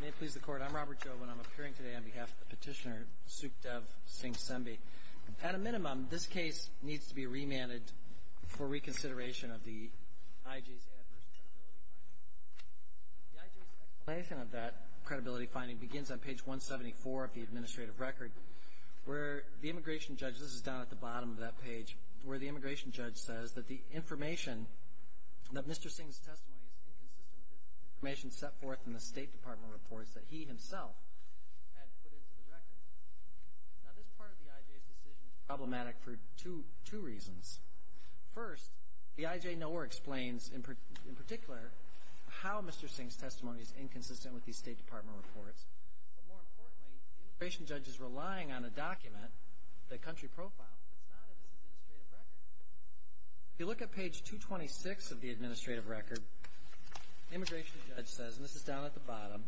May it please the Court, I'm Robert Joven. I'm appearing today on behalf of the petitioner, Sukhdev Singh Sembi. At a minimum, this case needs to be remanded for reconsideration of the IJ's adverse credibility finding. The IJ's explanation of that credibility finding begins on page 174 of the administrative record, where the immigration judge, this is down Mr. Singh's testimony is inconsistent with the information set forth in the State Department reports that he himself had put into the record. Now, this part of the IJ's decision is problematic for two reasons. First, the IJ nowhere explains, in particular, how Mr. Singh's testimony is inconsistent with these State Department reports. But more importantly, the immigration judge is relying on a document, the country profile, that's not in this administrative record. If you look at page 226 of the administrative record, the immigration judge says, and this is down at the bottom,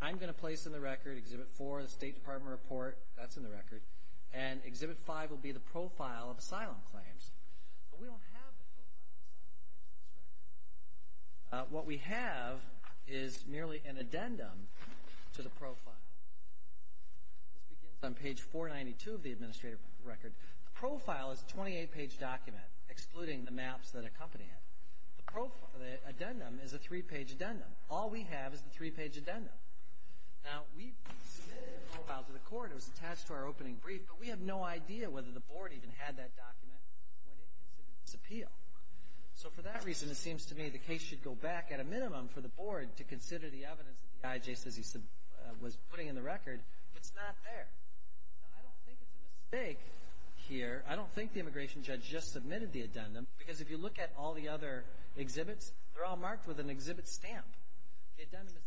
I'm going to place in the record Exhibit 4 of the State Department report, that's in the record, and Exhibit 5 will be the profile of asylum claims. But we don't have the profile of asylum claims in this record. What we have is merely an 28-page document, excluding the maps that accompany it. The profile, the addendum, is a three-page addendum. All we have is the three-page addendum. Now, we submitted the profile to the court. It was attached to our opening brief, but we have no idea whether the Board even had that document when it considered its appeal. So for that reason, it seems to me the case should go back, at a minimum, for the Board to consider the evidence that the IJ says he was putting in the record, but it's not there. Now, I don't think it's a mistake here. I don't think the immigration judge just submitted the addendum, because if you look at all the other exhibits, they're all marked with an exhibit stamp. The addendum is not.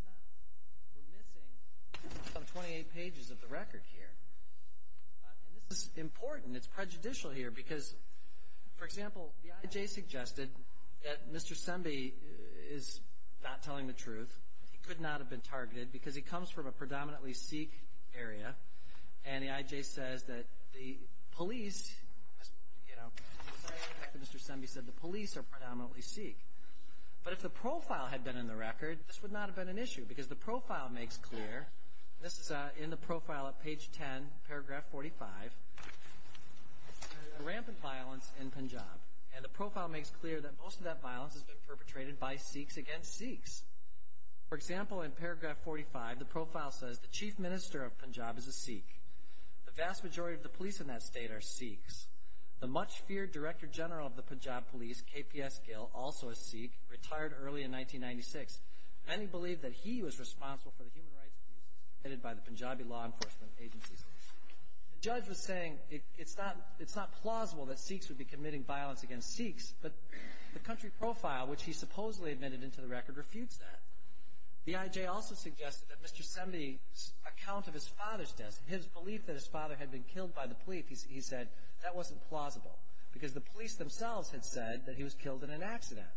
We're missing some 28 pages of the record here. And this is important. It's prejudicial here, because, for example, the IJ suggested that Mr. Sembe is not telling the truth. He could not have been targeted, because he comes from a predominantly Sikh area, and the IJ says that the police, you know, aside from the fact that Mr. Sembe said the police are predominantly Sikh. But if the profile had been in the record, this would not have been an issue, because the profile makes clear, and this is in the profile at page 10, paragraph 45, that there is rampant violence in Punjab. And the profile makes clear that most of that violence has been perpetrated by Sikhs against Sikhs. For example, in paragraph 45, the profile says the chief minister of Punjab is a Sikh. The vast majority of the police in that state are Sikhs. The much feared director general of the Punjab police, KPS Gill, also a Sikh, retired early in 1996. Many believe that he was responsible for the human rights abuses committed by the Punjabi law enforcement agencies. The judge was saying it's not plausible that Sikhs would be committing violence against Sikhs, but the country profile, which he supposedly admitted into the record, refutes that. The IJ also suggested that Mr. Sembe's account of his father's death, his belief that his father had been killed by the police, he said that wasn't plausible, because the police themselves had said that he was killed in an accident.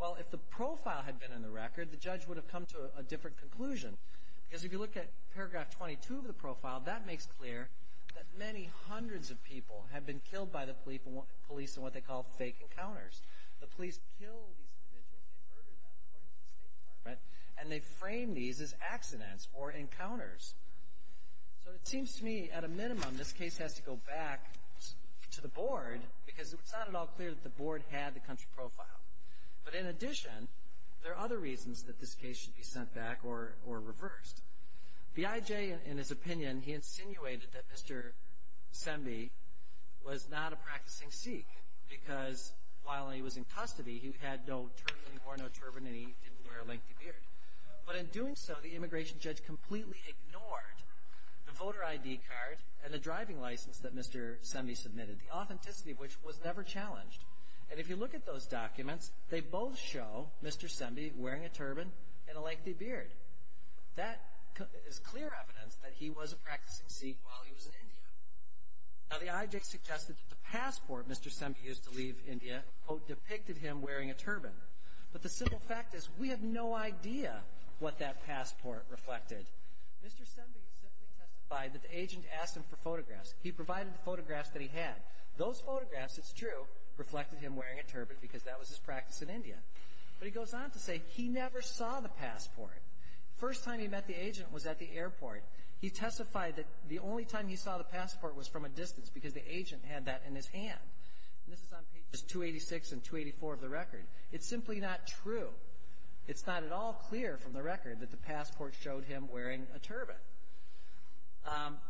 Well, if the profile had been in the record, the judge would have come to a different conclusion, because if you look at paragraph 22 of the profile, that makes clear that many hundreds of people have been killed by the police in what they call fake encounters. The police killed these individuals and they murdered them, according to the State Department, and they framed these as accidents or encounters. So it seems to me, at a minimum, this case has to go back to the board, because it's not at all clear that the board had the country profile. But in addition, there are other reasons that this case should be sent back or reversed. The IJ, in his opinion, he insinuated that Mr. Sembe was not a practicing Sikh, because while he was in custody, he had no turban, he wore no turban, and he didn't wear a lengthy beard. But in doing so, the immigration judge completely ignored the voter ID card and the driving license that Mr. Sembe submitted, the authenticity of which was never challenged. And if you look at those documents, they both show Mr. Sembe wearing a turban and a lengthy beard. That is clear evidence that he was a practicing Sikh while he was in India. Now, the IJ suggested that the passport Mr. Sembe used to leave India, quote, depicted him wearing a turban. But the simple fact is, we have no idea what that passport reflected. Mr. Sembe simply testified that the agent asked him for photographs. He provided the photographs that he had. Those photographs, it's true, reflected him wearing a turban, because that was his practice in India. But he goes on to say he never saw the passport. The first time he met the agent was at the airport. He testified that the only time he saw the passport was from a distance, because the agent had that in his hand. And this is on pages 286 and 284 of the record. It's simply not true. It's not at all clear from the record that the passport showed him wearing a turban.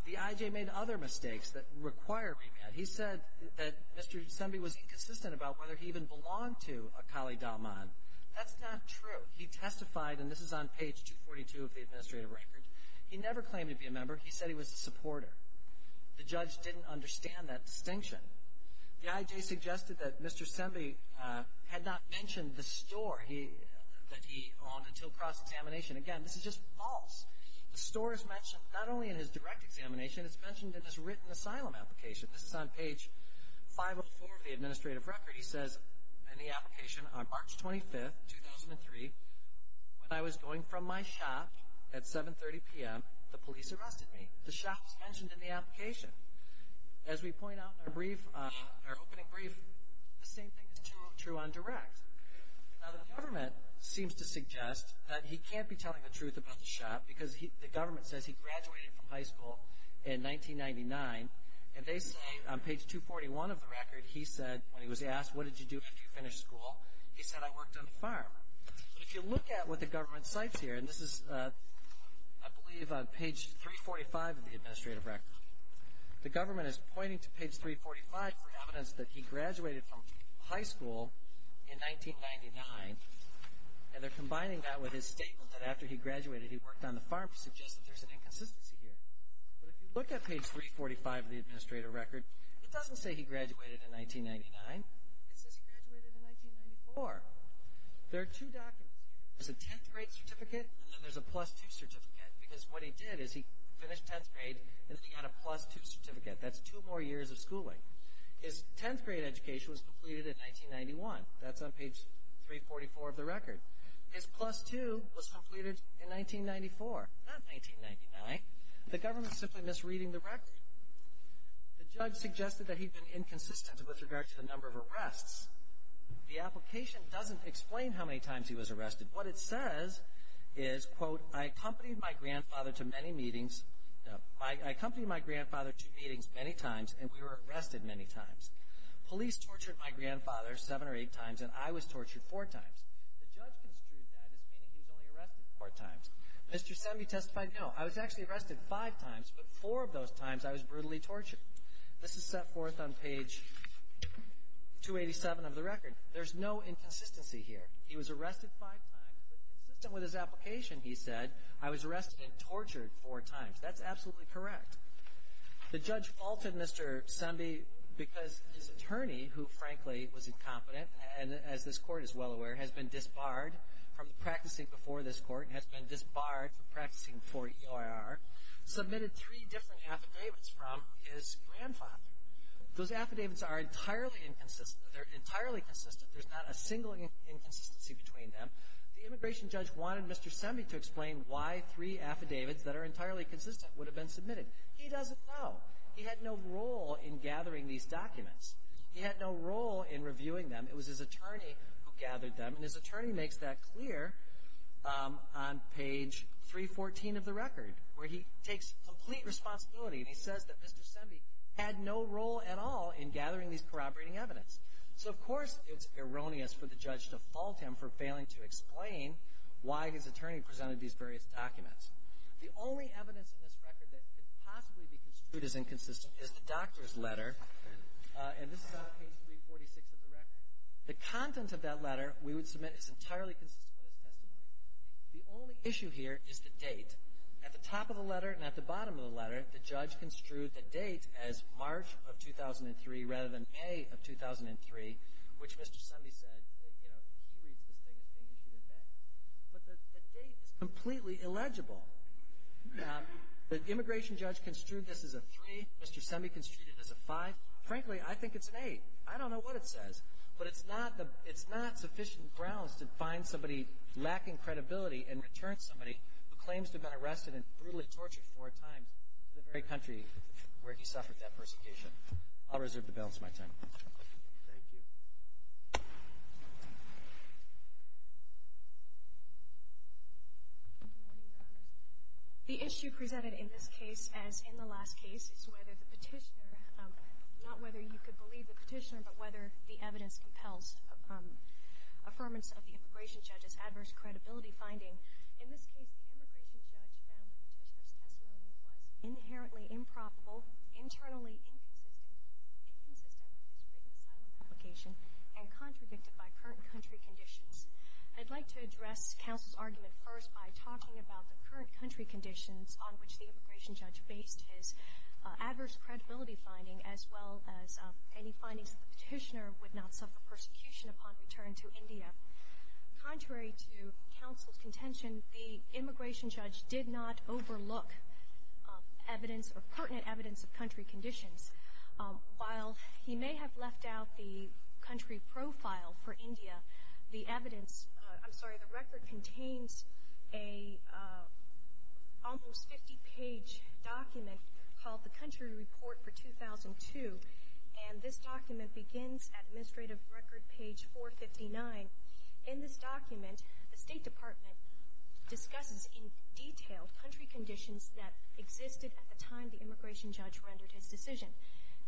The IJ made other mistakes that require remand. He said that Mr. Sembe was inconsistent about whether he even belonged to a Kali Dalman. That's not true. He testified, and this is on page 242 of the administrative record, he never claimed to be a member. He said he was a supporter. The judge didn't understand that distinction. The IJ suggested that Mr. Sembe had not mentioned the store that he owned until cross-examination. Again, this is just false. The store is mentioned not only in his direct examination, it's mentioned in his written asylum application. This is on page 504 of the administrative record. He says in the application, on March 25th, 2003, when I was going from my shop at 7.30 a.m. to 6.30 p.m., the shop was mentioned in the application. As we point out in our opening brief, the same thing is true on direct. Now, the government seems to suggest that he can't be telling the truth about the shop because the government says he graduated from high school in 1999, and they say on page 241 of the record, he said, when he was asked, what did you do after you finished school, he said, I worked on a farm. But if you look at what the government cites here, and this is, I believe, on page 345 of the administrative record, the government is pointing to page 345 for evidence that he graduated from high school in 1999, and they're combining that with his statement that after he graduated, he worked on the farm to suggest that there's an inconsistency here. But if you look at page 345 of the administrative record, it doesn't say he graduated in 1999. It says he graduated in 1994. There are two documents here. There's a tenth grade certificate, and then there's a plus two certificate, because what he did is he finished tenth grade, and then he got a plus two certificate. That's two more years of schooling. His tenth grade education was completed in 1991. That's on page 344 of the record. His plus two was completed in 1994, not 1999. The government is simply misreading the record. The judge suggested that he'd been inconsistent with regard to the number of arrests. The application doesn't explain how many times he was arrested, but what it says is, quote, I accompanied my grandfather to meetings many times, and we were arrested many times. Police tortured my grandfather seven or eight times, and I was tortured four times. The judge construed that as meaning he was only arrested four times. Mr. Semme testified, no, I was actually arrested five times, but four of those times I was brutally tortured. This is set forth on page 287 of the record. There's no inconsistency here. He was arrested five times, but consistent with his application, he said, I was arrested and tortured four times. That's absolutely correct. The judge faulted Mr. Semme because his attorney, who, frankly, was incompetent, and as this court is well aware, has been disbarred from practicing before this court, has been disbarred from practicing before EIR, submitted three different affidavits from his grandfather. Those affidavits are entirely inconsistent. They're entirely consistent. There's not a single inconsistency between them. The immigration judge wanted Mr. Semme to explain why three affidavits that are entirely consistent would have been submitted. He doesn't know. He had no role in gathering these documents. He had no role in reviewing them. It was his attorney who gathered them, and his attorney makes that clear on page 314 of the record, where he takes complete responsibility, and he says that Mr. Semme had no role at all in gathering these corroborating evidence. So, of course, it's erroneous for the judge to fault him for failing to explain why his attorney presented these various documents. The only evidence in this record that could possibly be construed as inconsistent is the doctor's letter, and this is on page 346 of the record. The content of that letter we would submit is entirely consistent with his testimony. The only issue here is the date. At the top of the letter and at the bottom of the letter, the judge construed the date as March of 2003 rather than May of 2003, which Mr. Semme said, you know, he reads this thing as being issued in May. But the date is completely illegible. The immigration judge construed this as a 3. Mr. Semme construed it as a 5. Frankly, I think it's an 8. I don't know what it says. But it's not the — it's not sufficient grounds to find somebody lacking credibility and return somebody who claims to have been arrested and brutally tortured four times to the very country where he suffered that persecution. I'll reserve the balance of my time. Thank you. Good morning, Your Honors. The issue presented in this case, as in the last case, is whether the Petitioner — not whether you could believe the Petitioner, but whether the evidence compels affirmance of the immigration judge's adverse credibility finding. In this case, the immigration judge found the Petitioner's testimony was inherently improbable, internally inconsistent, inconsistent with his written asylum application, and contradicted by current country conditions. I'd like to address counsel's argument first by talking about the current country conditions on which the immigration judge based his adverse credibility finding, as well as any findings that the Petitioner would not suffer persecution upon return to India. Contrary to counsel's contention, the immigration judge did not overlook evidence or pertinent evidence of country conditions. While he may have left out the country profile for India, the evidence — I'm sorry, the record contains an almost 50-page document called the Country Report for 2002, and this document begins at Administrative Record, page 459. In this document, the State Department discusses in detail country conditions that existed at the time the immigration judge rendered his decision.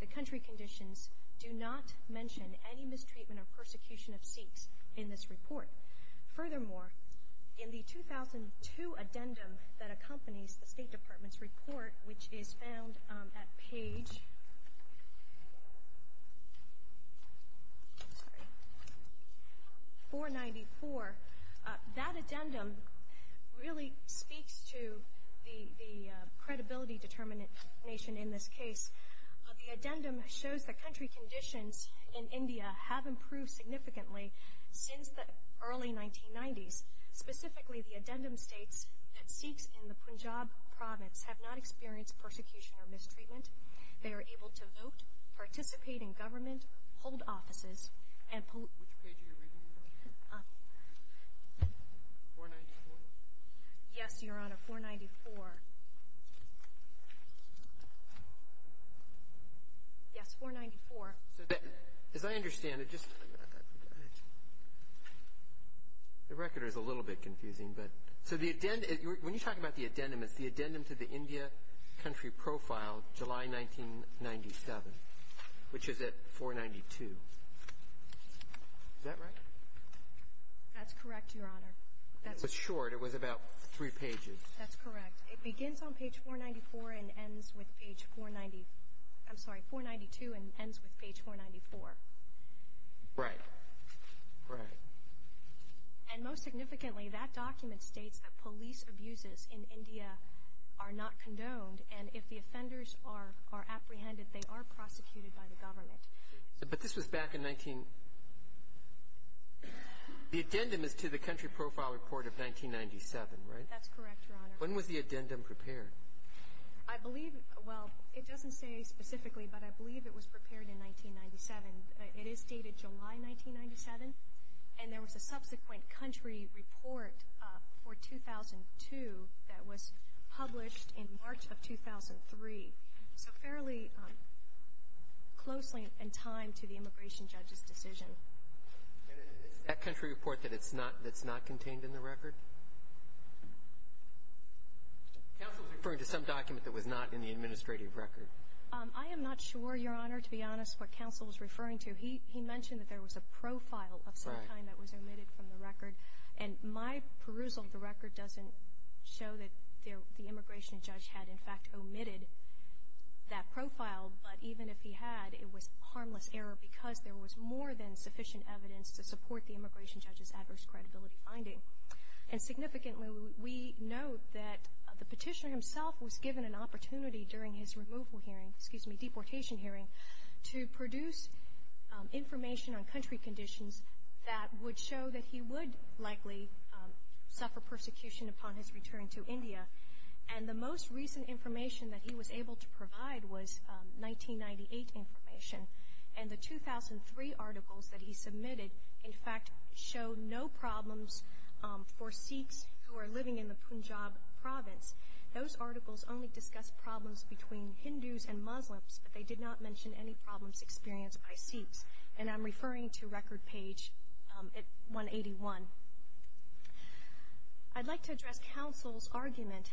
The country conditions do not mention any mistreatment or persecution of Sikhs in this report. Furthermore, in the 2002 addendum that accompanies the State Department's report, which is found at page 494, that addendum really speaks to the credibility determination in this case. The addendum shows that country conditions in India have improved significantly since the early 1990s. Specifically, the addendum states that Sikhs in the Punjab province have not experienced persecution or mistreatment. They are able to vote, participate in government, hold offices, and — Which page are you reading from? 494? Yes, Your Honor, 494. Yes, 494. As I understand it, just — the record is a little bit confusing, but — so the — when you talk about the addendum, it's the addendum to the India Country Profile, July 1997, which is at 492. Is that right? That's correct, Your Honor. It was short. It was about three pages. That's correct. It begins on page 494 and ends with page 490 — I'm sorry, 492 and ends with page 494. Right. Right. And most significantly, that document states that police abuses in India are not condoned, and if the offenders are apprehended, they are prosecuted by the government. But this was back in 19 — the addendum is to the Country Profile Report of 1997, right? That's correct, Your Honor. When was the addendum prepared? I believe — well, it doesn't say specifically, but I believe it was prepared in 1997. It is dated July 1997, and there was a subsequent country report for 2002 that was published in March of 2003. So fairly closely in time to the immigration judge's decision. Is that country report that it's not — that's not contained in the record? Counsel is referring to some document that was not in the administrative record. I am not sure, Your Honor, to be honest, what counsel is referring to. He mentioned that there was a profile of some kind that was omitted from the record, and my perusal of the record doesn't show that the immigration judge had, in fact, omitted that profile. But even if he had, it was harmless error because there was more than sufficient evidence to support the immigration judge's adverse credibility finding. And significantly, we note that the petitioner himself was given an opportunity during his removal hearing — excuse me, deportation hearing — to produce information on country conditions that would show that he would likely suffer persecution upon his return to India. And the most recent information that he was able to provide was 1998 information. And the 2003 articles that he submitted, in fact, show no problems for Sikhs who are living in the Punjab province. Those articles only discuss problems between Hindus and Muslims, but they did not mention any problems experienced by Sikhs. And I'm referring to record page 181. I'd like to address counsel's argument,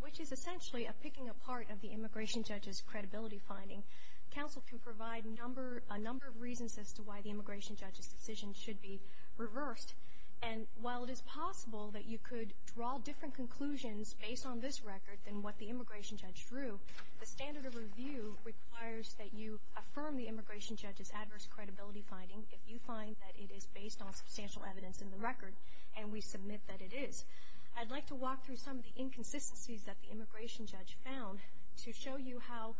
which is essentially a picking apart of the immigration judge's credibility finding. Counsel can provide a number of reasons as to why the immigration judge's decision should be reversed. And while it is possible that you could draw different conclusions based on this record than what the immigration judge drew, the standard of review requires that you affirm the immigration judge's adverse credibility finding if you find that it is based on substantial evidence in the record, and we submit that it is. I'd like to walk through some of the inconsistencies that the immigration judge found to show you how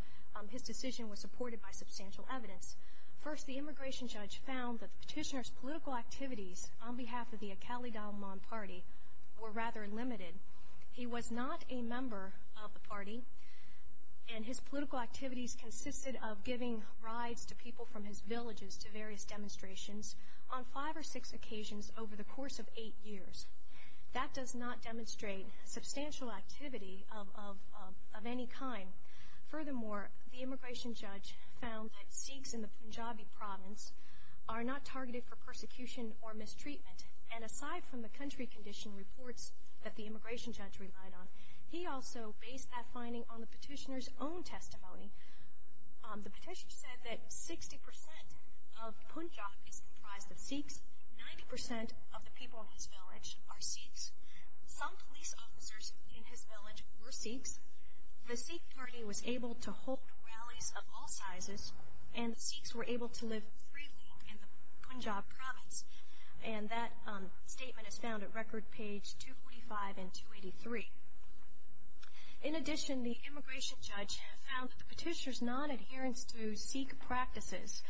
his decision was supported by substantial evidence. First, the immigration judge found that the petitioner's political activities on behalf of the Akeli Dalman party were rather limited. He was not a member of the party, and his political activities consisted of giving rides to people from his villages to various demonstrations on five or six occasions over the course of eight years. That does not demonstrate substantial activity of any kind. Furthermore, the immigration judge found that Sikhs in the Punjabi province are not targeted for persecution or mistreatment. And aside from the country condition reports that the immigration judge relied on, he also based that finding on the petitioner's own testimony. The petitioner said that 60% of Punjab is comprised of Sikhs, 90% of the people in his village are Sikhs, some police officers in his village were Sikhs, the Sikh party was able to halt rallies of all sizes, and the Sikhs were able to live freely in the Punjab province. And that statement is found at record page 245 and 283. In addition, the immigration judge found that the petitioner's non-adherence to Sikh practices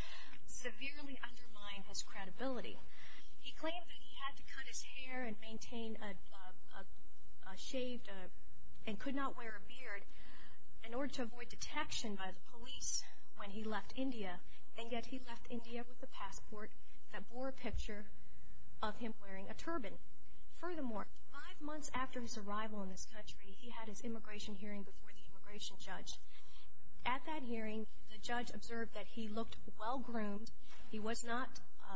severely undermined his credibility. He claimed that he had to cut his hair and maintain a shaved, and could not wear a beard in order to avoid detection by the police when he left India. And yet he left India with a passport that bore a picture of him wearing a turban. Furthermore, five months after his arrival in this country, he had his immigration hearing before the immigration judge. At that hearing, the judge observed that he looked well-groomed, he was not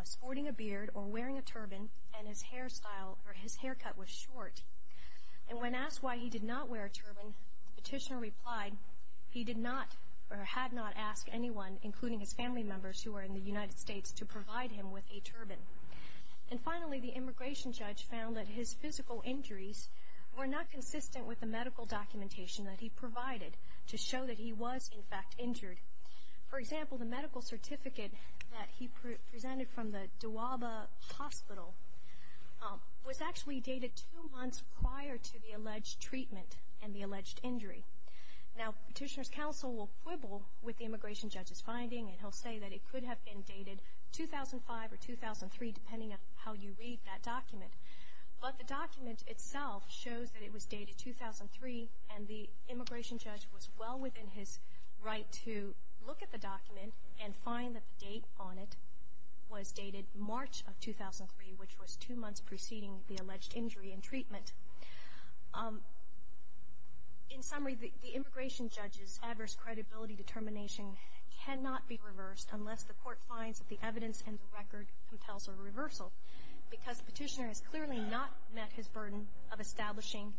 sporting a beard or wearing a turban, and his haircut was short. And when asked why he did not wear a turban, the petitioner replied, he did not or had not asked anyone, including his family members who were in the United States, to provide him with a turban. And finally, the immigration judge found that his physical injuries were not consistent with the medical documentation that he provided to show that he was, in fact, injured. For example, the medical certificate that he presented from the Dawaba Hospital was actually dated two months prior to the alleged treatment and the alleged injury. Now, petitioner's counsel will quibble with the immigration judge's finding, and he'll say that it could have been dated 2005 or 2003, depending on how you read that document. But the document itself shows that it was dated 2003, and the immigration judge was well within his right to look at the document and find that the date on it was dated March of 2003, which was two months preceding the alleged injury and treatment. In summary, the immigration judge's adverse credibility determination cannot be reversed unless the Court finds that the evidence and the record compels a reversal. Because the petitioner has clearly not met his burden of establishing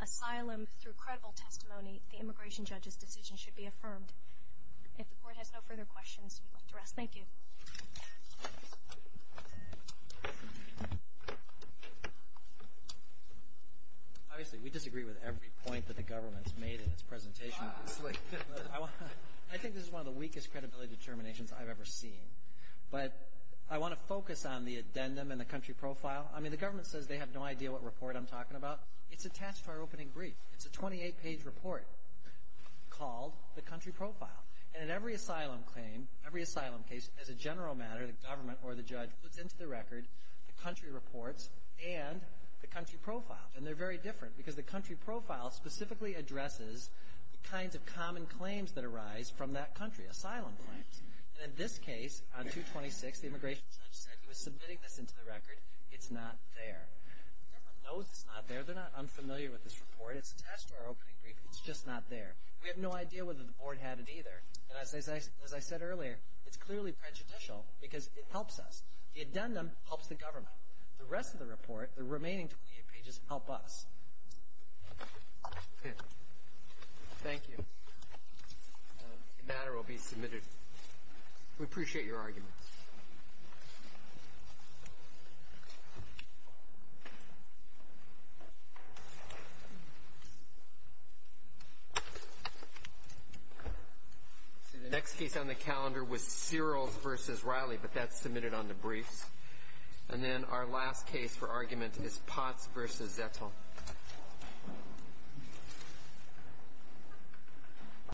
asylum through credible testimony, the immigration judge's decision should be affirmed. If the Court has no further questions, we'd like to rest. Thank you. Obviously, we disagree with every point that the government's made in its presentation. I think this is one of the weakest credibility determinations I've ever seen. But I want to focus on the addendum and the country profile. I mean, the government says they have no idea what report I'm talking about. It's attached to our opening brief. It's a 28-page report called the country profile. And in every asylum claim, every asylum case, as a general matter, the government or the judge puts into the record the country reports and the country profile. And they're very different because the country profile specifically addresses the kinds of common claims that arise from that country, asylum claims. And in this case, on 226, the immigration judge said he was submitting this into the record. It's not there. The government knows it's not there. They're not unfamiliar with this report. It's attached to our opening brief. It's just not there. We have no idea whether the board had it either. And as I said earlier, it's clearly prejudicial because it helps us. The addendum helps the government. The rest of the report, the remaining 28 pages, help us. Thank you. The matter will be submitted. We appreciate your argument. The next case on the calendar was Searles v. Riley, but that's submitted on the briefs. And then our last case for argument is Potts v. Zettel.